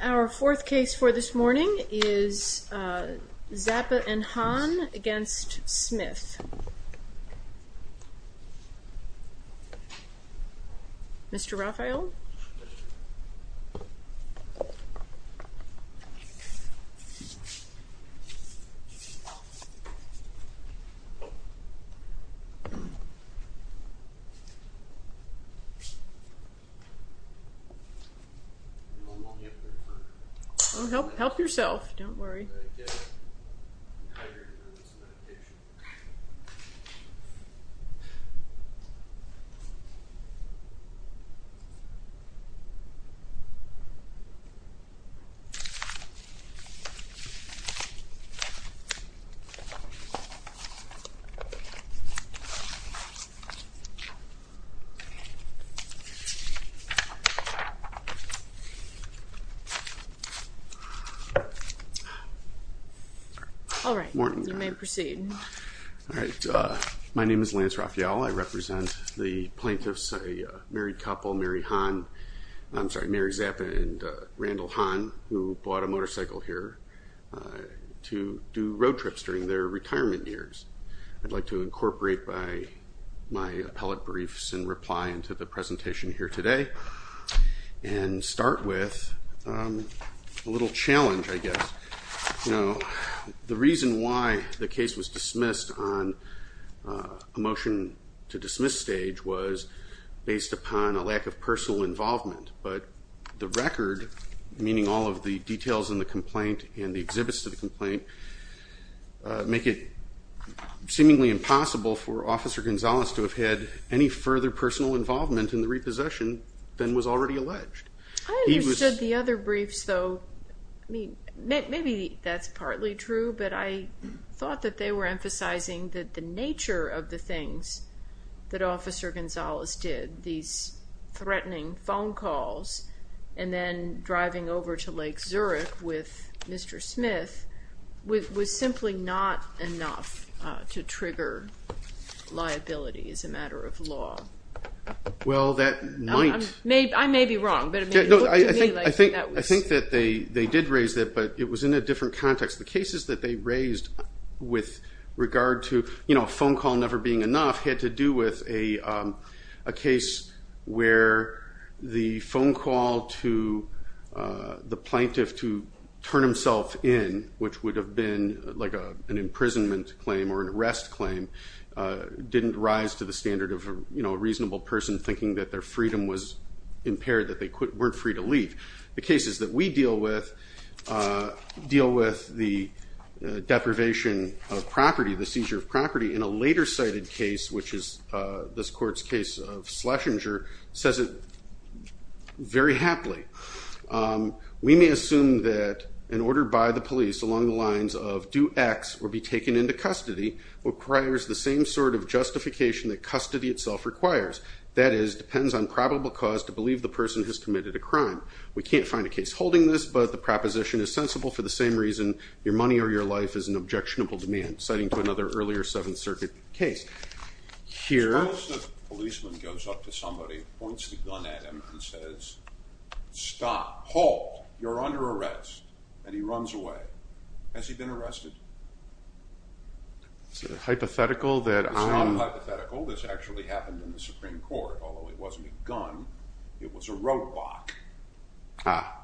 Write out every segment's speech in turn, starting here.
Our fourth case for this morning is Zappa and Hahn v. Smith Jeffrey Smith Mr. Raphael. Mr. Raphael Help yourself. Don't worry. All right. Morning. You may proceed. All right. My name is Lance Raphael. I represent the plaintiffs, a married couple, Mary Zappa and Randall Hahn, who bought a motorcycle here to do road trips during their retirement years. I'd like to incorporate my appellate briefs and reply into the presentation here today and start with a little challenge, I guess. You know, the reason why the case was dismissed on a motion to dismiss stage was based upon a lack of personal involvement. But the record, meaning all of the details in the complaint and the exhibits to the complaint, make it seemingly impossible for Officer Gonzales to have had any further personal involvement in the repossession than was already alleged. I understood the other briefs, though. I mean, maybe that's partly true, but I thought that they were emphasizing that the nature of the things that Officer Gonzales did, these threatening phone calls and then driving over to Lake Zurich with Mr. Smith, was simply not enough to trigger liability as a I think that they did raise that, but it was in a different context. The cases that they raised with regard to, you know, a phone call never being enough had to do with a case where the phone call to the plaintiff to turn himself in, which would have been like an imprisonment claim or an arrest claim, didn't rise to the standard of, you know, a reasonable person thinking that their freedom was weren't free to leave. The cases that we deal with deal with the deprivation of property, the seizure of property, in a later cited case, which is this court's case of Schlesinger, says it very happily. We may assume that an order by the police along the lines of do X or be taken into custody requires the same sort of justification that custody itself requires. That is, depends on probable cause to believe the person has committed a crime. We can't find a case holding this, but the proposition is sensible for the same reason your money or your life is an objectionable demand, citing to another earlier Seventh Circuit case. Suppose the policeman goes up to somebody, points the gun at him, and says, stop, halt, you're under arrest, and he runs away. Has he been arrested? It's a hypothetical that... It's not a hypothetical, this actually happened in the Supreme Court, although it wasn't a gun, it was a robot. Ah,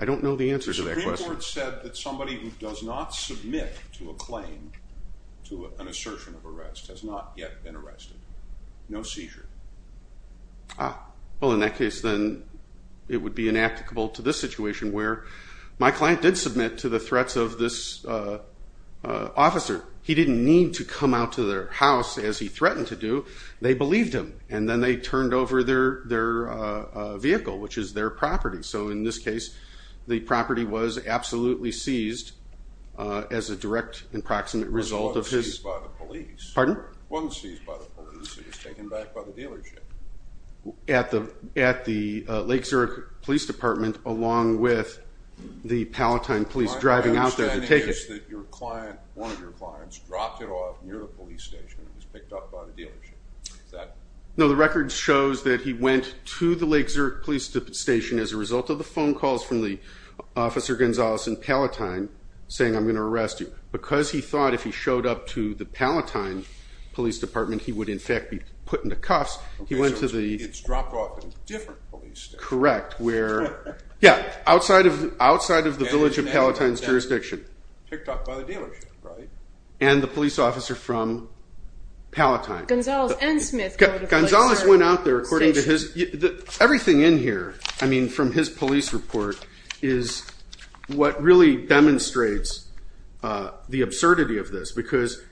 I don't know the answer to that question. The Supreme Court said that somebody who does not submit to a claim, to an assertion of arrest, has not yet been arrested. No seizure. Ah, well in that case then, it would be inapplicable to this situation, where my client did submit to the threats of this officer. He didn't need to come out to their house, as he threatened to do. They believed him, and then they turned over their vehicle, which is their property. So in this case, the property was absolutely seized as a direct and proximate result of his... Pardon? It wasn't seized by the police, it was taken back by the dealership. At the Lake Zurich Police Department, along with the Palatine Police driving out there to take it. My understanding is that your client, one of your clients, dropped it off near the police station, and it was picked up by the dealership. Is that... No, the record shows that he went to the Lake Zurich Police Station as a result of the phone calls from the Officer Gonzales in Palatine, saying I'm going to arrest you. Because he thought if he showed up to the Palatine Police Department, he would in fact be put into cuffs, he went to the... Okay, so it's dropped off in a different police station. Correct. Yeah, outside of the village of Palatine's jurisdiction. Picked up by the dealership, right? And the police officer from Palatine. Gonzales and Smith... Gonzales went out there, according to his... Everything in here, I mean, from his police report, is what really demonstrates the absurdity of this, because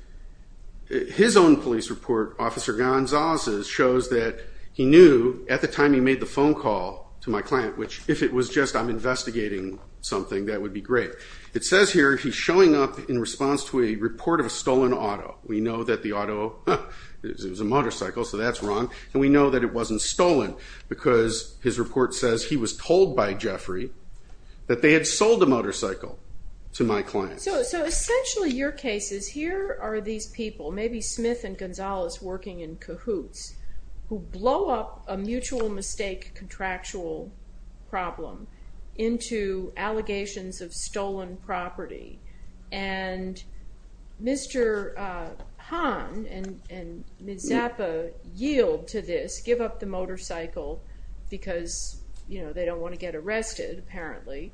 his own police report, Officer Gonzales's, shows that he knew, at the time he made the phone call to my client, which, if it was just, I'm investigating something, that would be great. It says here, he's showing up in response to a report of a stolen auto. We know that the auto, it was a motorcycle, so that's wrong, and we know that it wasn't stolen, because his report says he was told by Jeffrey that they had sold a motorcycle to my client. So, essentially, your case is, here are these people, maybe Smith and Gonzales working in cahoots, who blow up a mutual mistake contractual problem into allegations of stolen property, and Mr. Hahn and Ms. Zappa yield to this, give up the motorcycle because they don't wanna get arrested, apparently,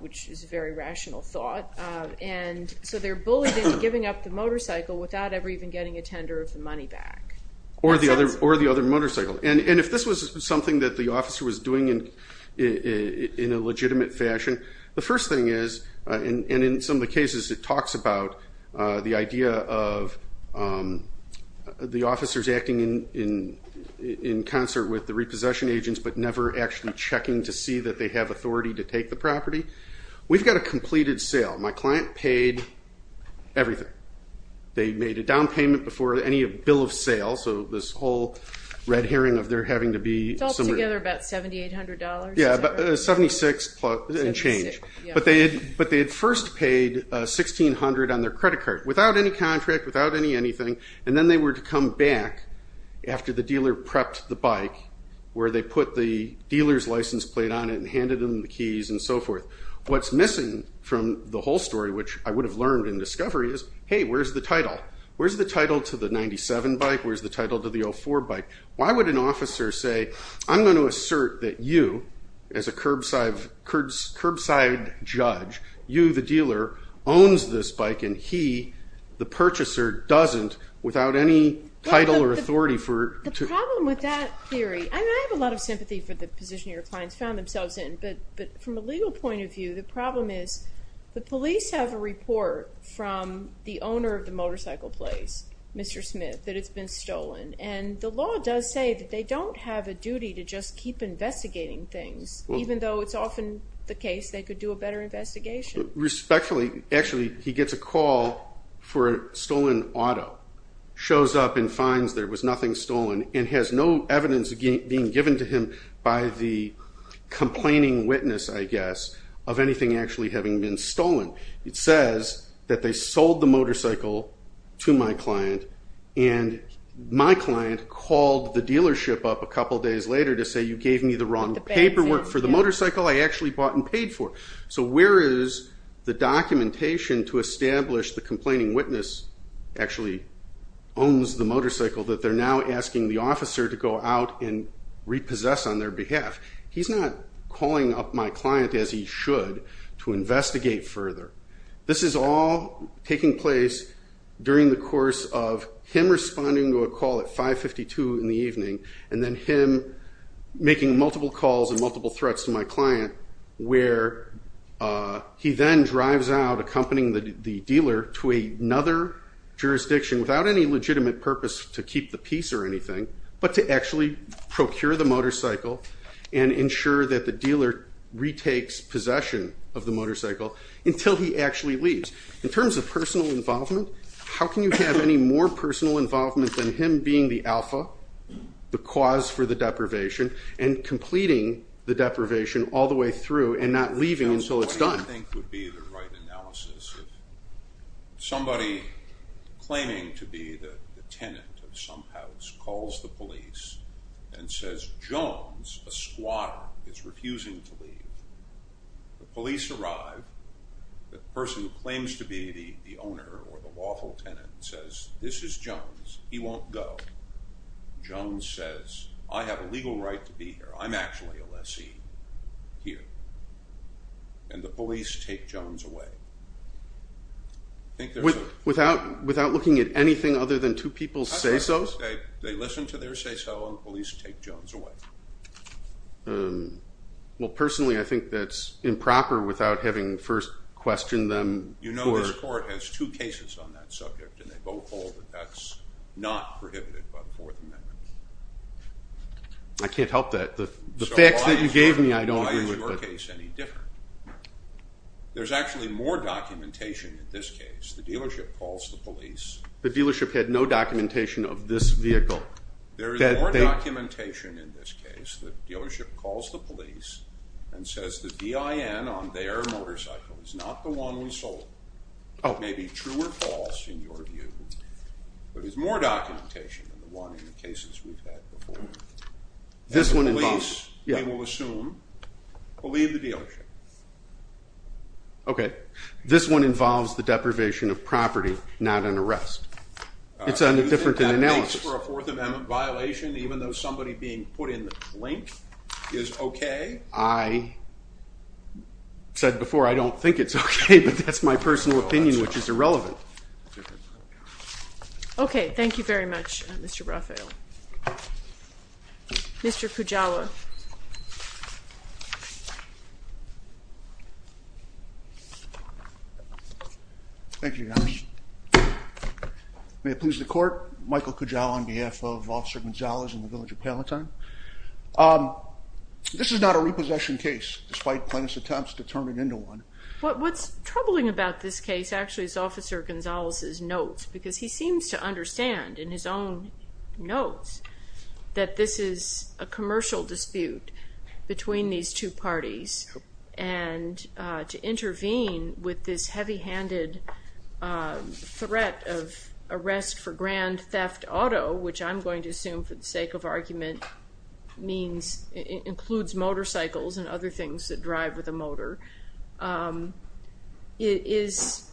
which is a very rational thought. And so they're bullied into giving up the motorcycle without ever even getting a tender of the money back. Or the other motorcycle. And if this was something that the officer was doing in a legitimate fashion, the first thing is, and in some of the cases, it talks about the idea of the officers acting in concert with the repossession agents, but never actually checking to see that they have authority to take the property. We've got a completed sale. My client paid everything. They made a down payment before any bill of sale, so this whole red herring of there having to be... It's altogether about $7,800. Yeah, 76 and change. But they had first paid $1,600 on their credit card, without any contract, without any anything, and then they were to come back after the dealer prepped the bike, where they put the dealer's license plate on it and handed them the keys and so forth. What's missing from the whole story, which I would have learned in discovery, is, hey, where's the title? Where's the title to the 97 bike? Where's the title to the 04 bike? Why would an officer say, I'm gonna assert that you, as a curbside judge, you, the dealer, owns this bike, and he, the purchaser, doesn't, without any title or authority for... The problem with that theory, and I have a lot of sympathy for the position your clients found themselves in, but from a legal point of view, the problem is, the police have a report from the owner of the motorcycle place, Mr. Smith, that it's been stolen. And the law does say that they don't have a duty to just keep investigating things, even though it's often the case they could do a better investigation. Respectfully, actually, he gets a call for a stolen auto, shows up and finds there was nothing stolen, and has no evidence being given to him by the complaining witness, I guess, of anything actually having been stolen. It says that they sold the motorcycle to my client, and my client called the dealership up a couple days later to say, you gave me the wrong paperwork for the motorcycle I actually bought and paid for. So where is the documentation to establish the complaining witness actually owns the motorcycle that they're now asking the officer to go out and repossess on their behalf? He's not calling up my client, as he should, to investigate further. This is all taking place during the course of him responding to a call at 552 in the evening, and then him making multiple calls and multiple threats to my client, where he then drives out, accompanying the dealer to another jurisdiction, without any legitimate purpose to keep the piece or anything, but to actually procure the motorcycle, and ensure that the dealer retakes possession of the motorcycle until he actually leaves. In terms of personal involvement, how can you have any more personal involvement than him being the alpha, the cause for the deprivation, and completing the deprivation all the way through and not leaving until it's done? I think it would be the right analysis if somebody claiming to be the tenant of some house calls the police and says, Jones, a squatter, is refusing to leave. The police arrive, the person who claims to be the owner or the lawful tenant says, this is Jones, he won't go. Jones says, I have a legal right to be here, I'm actually a lessee here. And the police take Jones away. Without looking at anything other than two people's say-sos? They listen to their say-so, and the police take Jones away. Well, personally, I think that's improper without having first questioned them. You know this court has two cases on that subject, and they both hold that that's not prohibited by the Fourth Amendment. I can't help that. The facts that you gave me, I don't agree with. Why is your case any different? There's actually more documentation in this case. The dealership calls the police. The dealership had no documentation of this vehicle. There is more documentation in this case. The dealership calls the police and says the DIN on their motorcycle is not the one we sold. It may be true or false in your view, but there's more documentation than the one in the cases we've had before. And the police, we will assume, will leave the dealership. Okay, this one involves the deprivation of property, not an arrest. It's a different analysis. That makes for a Fourth Amendment violation, even though somebody being put in the blink is okay. I said before I don't think it's okay, but that's my personal opinion, which is irrelevant. Okay, thank you very much, Mr. Rafael. Thank you, Your Honor. May it please the Court. Michael Cajal on behalf of Officer Gonzalez in the village of Palatine. This is not a repossession case, despite plaintiff's attempts to turn it into one. What's troubling about this case actually is Officer Gonzalez's notes, because he seems to understand in his own notes that this is a commercial dispute between these two parties, and to intervene with this heavy-handed threat of arrest for grand theft auto, which I'm going to assume for the sake of argument includes motorcycles and other things that drive with a motor, is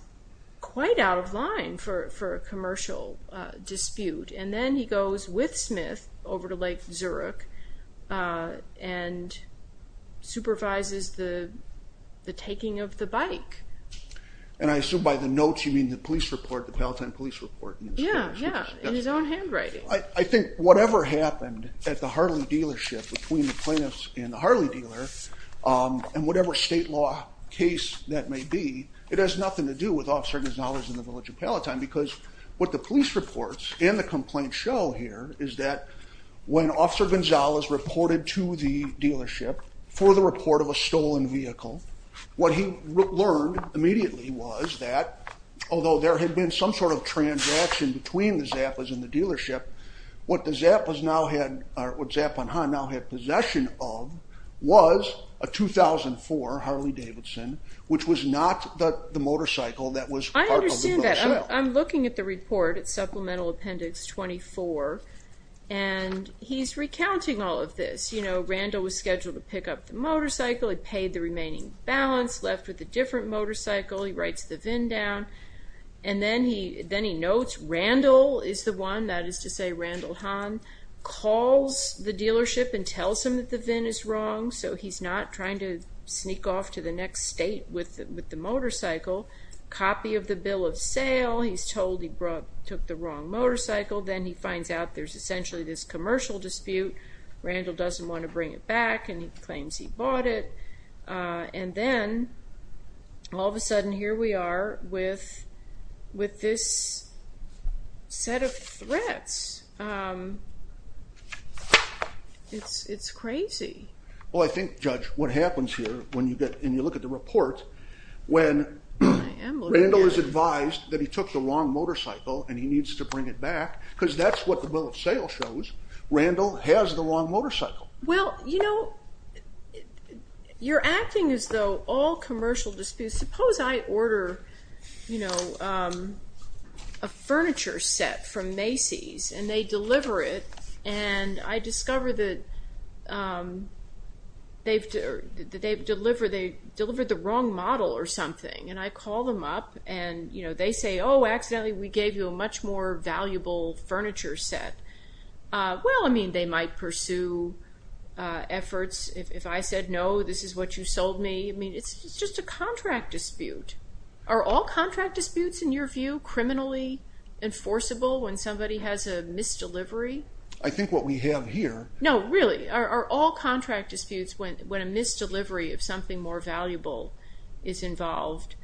quite out of line for a commercial dispute. And then he goes with Smith over to Lake Zurich and supervises the taking of the bike. And I assume by the notes you mean the police report, the Palatine police report. Yeah, yeah, in his own handwriting. I think whatever happened at the Harley dealership between the plaintiffs and the Harley dealer, and whatever state law case that may be, it has nothing to do with Officer Gonzalez in the village of Palatine, because what the police reports and the complaints show here is that when Officer Gonzalez reported to the dealership for the report of a stolen vehicle, what he learned immediately was that, although there had been some sort of transaction between the Zappas and the dealership, what the Zappas now had, or what Zapp and Hahn now had possession of, was a 2004 Harley Davidson, which was not the motorcycle that was part of the gross sale. I understand that. I'm looking at the report, Supplemental Appendix 24, and he's recounting all of this. You know, Randall was scheduled to pick up the motorcycle, he paid the remaining balance, left with a different motorcycle, he writes the VIN down, and then he notes Randall is the one, that is to say Randall Hahn, calls the dealership and tells them that the VIN is wrong, so he's not trying to sneak off to the next state with the motorcycle, copy of the bill of sale, he's told he took the wrong motorcycle, then he finds out there's essentially this commercial dispute, Randall doesn't want to bring it back, and he claims he bought it, and then, all of a sudden, here we are with this set of threats. It's crazy. Well, I think, Judge, what happens here, when you look at the report, when Randall is advised that he took the wrong motorcycle, and he needs to bring it back, because that's what the bill of sale shows, Randall has the wrong motorcycle. Well, you know, you're acting as though all commercial disputes, suppose I order, you know, a furniture set from Macy's, and they deliver it, and I discover that they've delivered the wrong model or something, and I call them up, and, you know, they say, oh, accidentally we gave you a much more valuable furniture set. Well, I mean, they might pursue efforts. If I said, no, this is what you sold me, I mean, it's just a contract dispute. Are all contract disputes, in your view, criminally enforceable, when somebody has a misdelivery? I think what we have here... No, really, are all contract disputes, when a misdelivery of something more valuable is involved,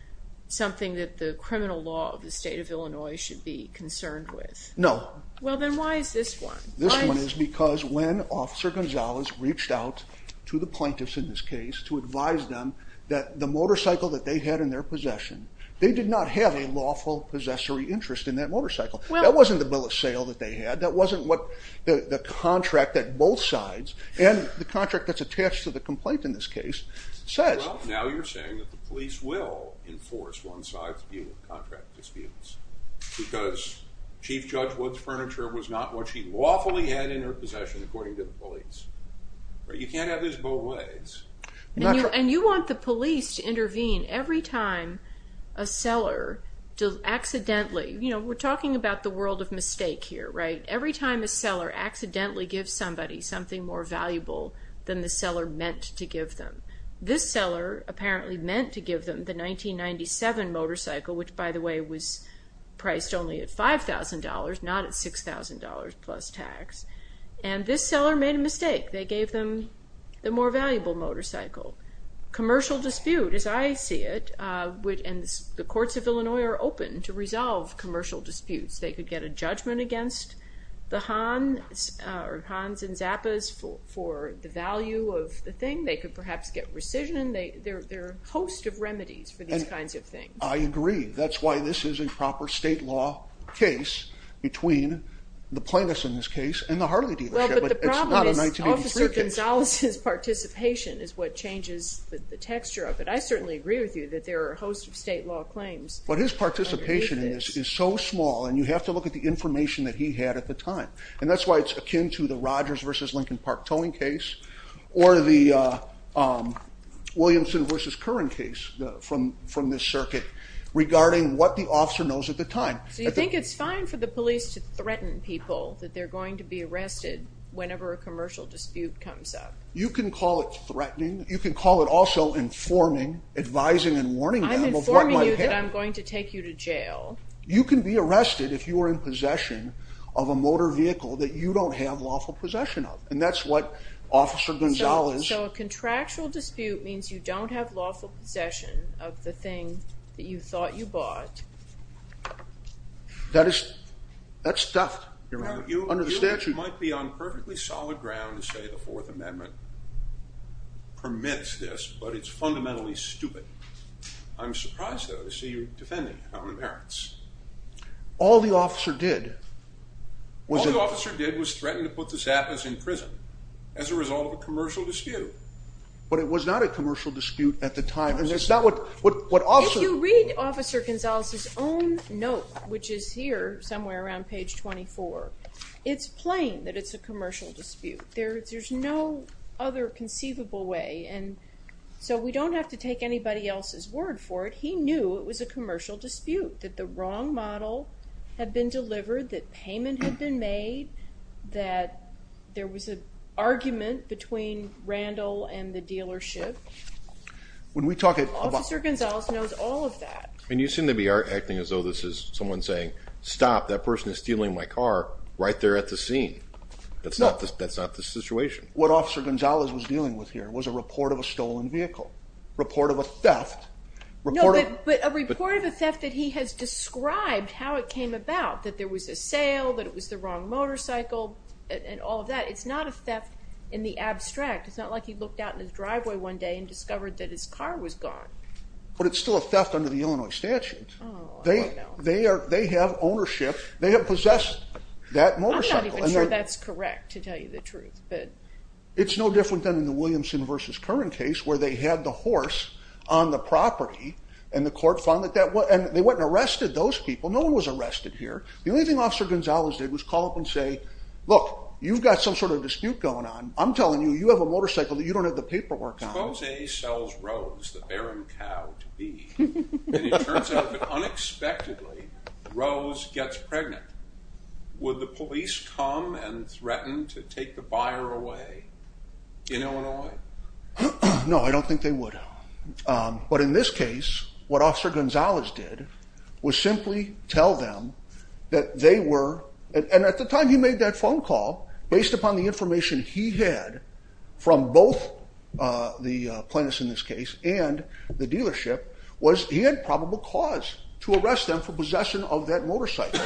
something that the criminal law of the state of Illinois should be concerned with? No. Well, then why is this one? This one is because when Officer Gonzalez reached out to the plaintiffs in this case, to advise them that the motorcycle that they had in their possession, they did not have a lawful possessory interest in that motorcycle. That wasn't the bill of sale that they had. That wasn't what the contract that both sides, and the contract that's attached to the complaint in this case, says. Well, now you're saying that the police will enforce one side's view of contract disputes, because Chief Judge Wood's furniture was not what she lawfully had in her possession, according to the police. You can't have this both ways. And you want the police to intervene every time a seller accidentally, you know, we're talking about the world of mistake here, right? Every time a seller accidentally gives somebody something more valuable, than the seller meant to give them. This seller apparently meant to give them the 1997 motorcycle, which, by the way, was priced only at $5,000, not at $6,000 plus tax. And this seller made a mistake. They gave them the more valuable motorcycle. Commercial dispute, as I see it, and the courts of Illinois are open to resolve commercial disputes. They could get a judgment against the Hans and Zappas for the value of the thing. They could perhaps get rescission. There are a host of remedies for these kinds of things. I agree. That's why this is a proper state law case between the plaintiffs in this case and the Harley dealership. Well, but the problem is Officer Gonzalez's participation is what changes the texture of it. I certainly agree with you that there are a host of state law claims. But his participation in this is so small, and you have to look at the information that he had at the time. And that's why it's akin to the Rogers v. Lincoln Park towing case, or the Williamson v. Curran case from this circuit, regarding what the officer knows at the time. So you think it's fine for the police to threaten people that they're going to be arrested whenever a commercial dispute comes up? You can call it threatening. You can call it also informing, advising, and warning them of what might happen. I'm informing you that I'm going to take you to jail. You can be arrested if you are in possession of a motor vehicle that you don't have lawful possession of. And that's what Officer Gonzalez... So a contractual dispute means you don't have lawful possession of the thing that you thought you bought. That is, that's theft under the statute. You might be on perfectly solid ground to say the Fourth Amendment permits this, but it's fundamentally stupid. I'm surprised, though, to see you defending it on the merits. All the officer did was... as a result of a commercial dispute. But it was not a commercial dispute at the time. If you read Officer Gonzalez's own note, which is here, somewhere around page 24, it's plain that it's a commercial dispute. There's no other conceivable way. So we don't have to take anybody else's word for it. He knew it was a commercial dispute, that the wrong model had been delivered, that payment had been made, that there was an argument between Randall and the dealership. Officer Gonzalez knows all of that. And you seem to be acting as though this is someone saying, stop, that person is stealing my car right there at the scene. That's not the situation. What Officer Gonzalez was dealing with here was a report of a stolen vehicle. Report of a theft. No, but a report of a theft that he has described how it came about, that there was a sale, that it was the wrong motorcycle, and all of that. It's not a theft in the abstract. It's not like he looked out in his driveway one day and discovered that his car was gone. But it's still a theft under the Illinois statute. They have possessed that motorcycle. I'm not even sure that's correct, to tell you the truth. It's no different than in the Williamson v. Curran case where they had the horse on the property and the court found that that was, and they went and arrested those people. No one was arrested here. The only thing Officer Gonzalez did was call up and say, look, you've got some sort of dispute going on. I'm telling you, you have a motorcycle that you don't have the paperwork on. Suppose A sells Rose, the barren cow, to B. And it turns out that unexpectedly, Rose gets pregnant. Would the police come and threaten to take the buyer away in Illinois? No, I don't think they would. But in this case, what Officer Gonzalez did was simply tell them that they were, and at the time he made that phone call, based upon the information he had from both the plaintiffs in this case and the dealership, was he had probable cause to arrest them for possession of that motorcycle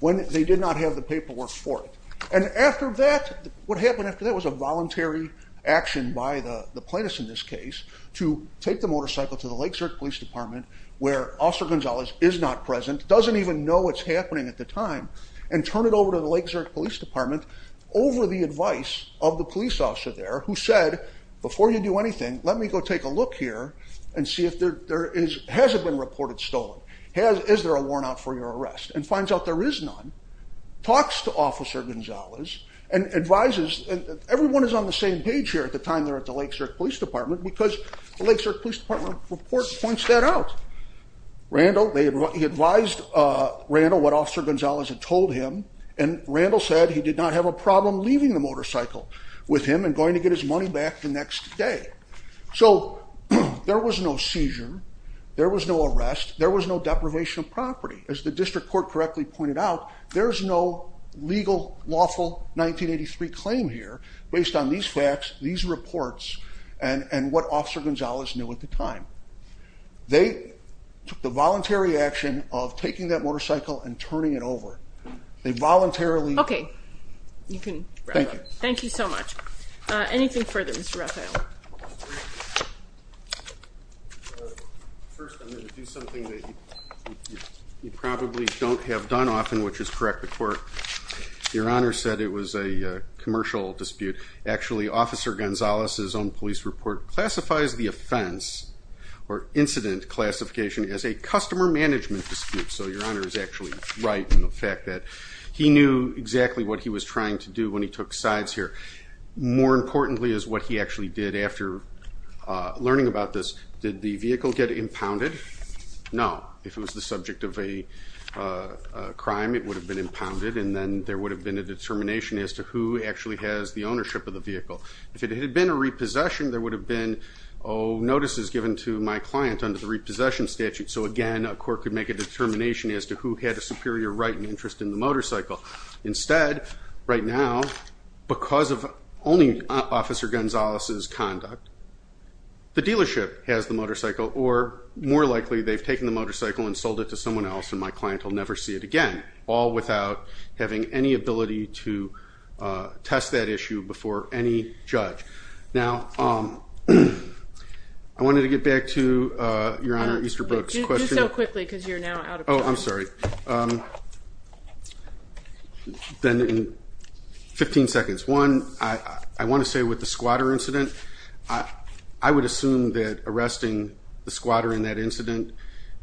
when they did not have the paperwork for it. And after that, what happened after that was a voluntary action by the plaintiffs in this case to take the motorcycle to the Lake Zurich Police Department where Officer Gonzalez is not present, doesn't even know what's happening at the time, and turn it over to the Lake Zurich Police Department over the advice of the police officer there who said, before you do anything, let me go take a look here and see if there is, has it been reported stolen? Is there a warrant out for your arrest? And finds out there is none, talks to Officer Gonzalez and advises, and everyone is on the same page here at the time they're at the Lake Zurich Police Department because the Lake Zurich Police Department report points that out. He advised Randall what Officer Gonzalez had told him and Randall said he did not have a problem leaving the motorcycle with him and going to get his money back the next day. So there was no seizure, there was no arrest, there was no deprivation of property. As the District Court correctly pointed out, there's no legal, lawful 1983 claim here based on these facts, these reports, and what Officer Gonzalez knew at the time. They took the voluntary action of taking that motorcycle and turning it over. They voluntarily... Okay, you can wrap up. Thank you so much. Anything further, Mr. Raphael? First, I'm going to do something that you probably don't have done often, which is correct the court. Your Honor said it was a commercial dispute. Actually, Officer Gonzalez's own police report classifies the offense or incident classification as a customer management dispute. So your Honor is actually right in the fact that he knew exactly what he was trying to do when he took sides here. More importantly is what he actually did after learning about this. Did the vehicle get impounded? No. If it was the subject of a crime, it would have been impounded and then there would have been a determination as to who actually has the ownership of the vehicle. If it had been a repossession, there would have been notices given to my client under the repossession statute. So again, a court could make a determination as to who had a superior right and interest in the motorcycle. Instead, right now, because of only Officer Gonzalez's conduct, the dealership has the motorcycle or more likely they've taken the motorcycle and sold it to someone else and my client will never see it again. All without having any ability to test that issue before any judge. I wanted to get back to your Honor Easterbrook's question. Just so quickly because you're now out of time. Then in 15 seconds. One, I want to say with the squatter incident, I would assume that arresting the squatter in that incident,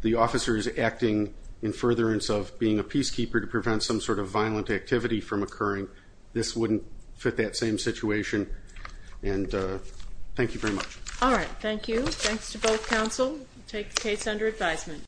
the officer is acting in furtherance of being a peacekeeper to prevent some sort of violent activity from occurring. This wouldn't fit that same situation. Thank you very much. Alright, thank you. Thanks to both counsel. We'll take the case under advisement.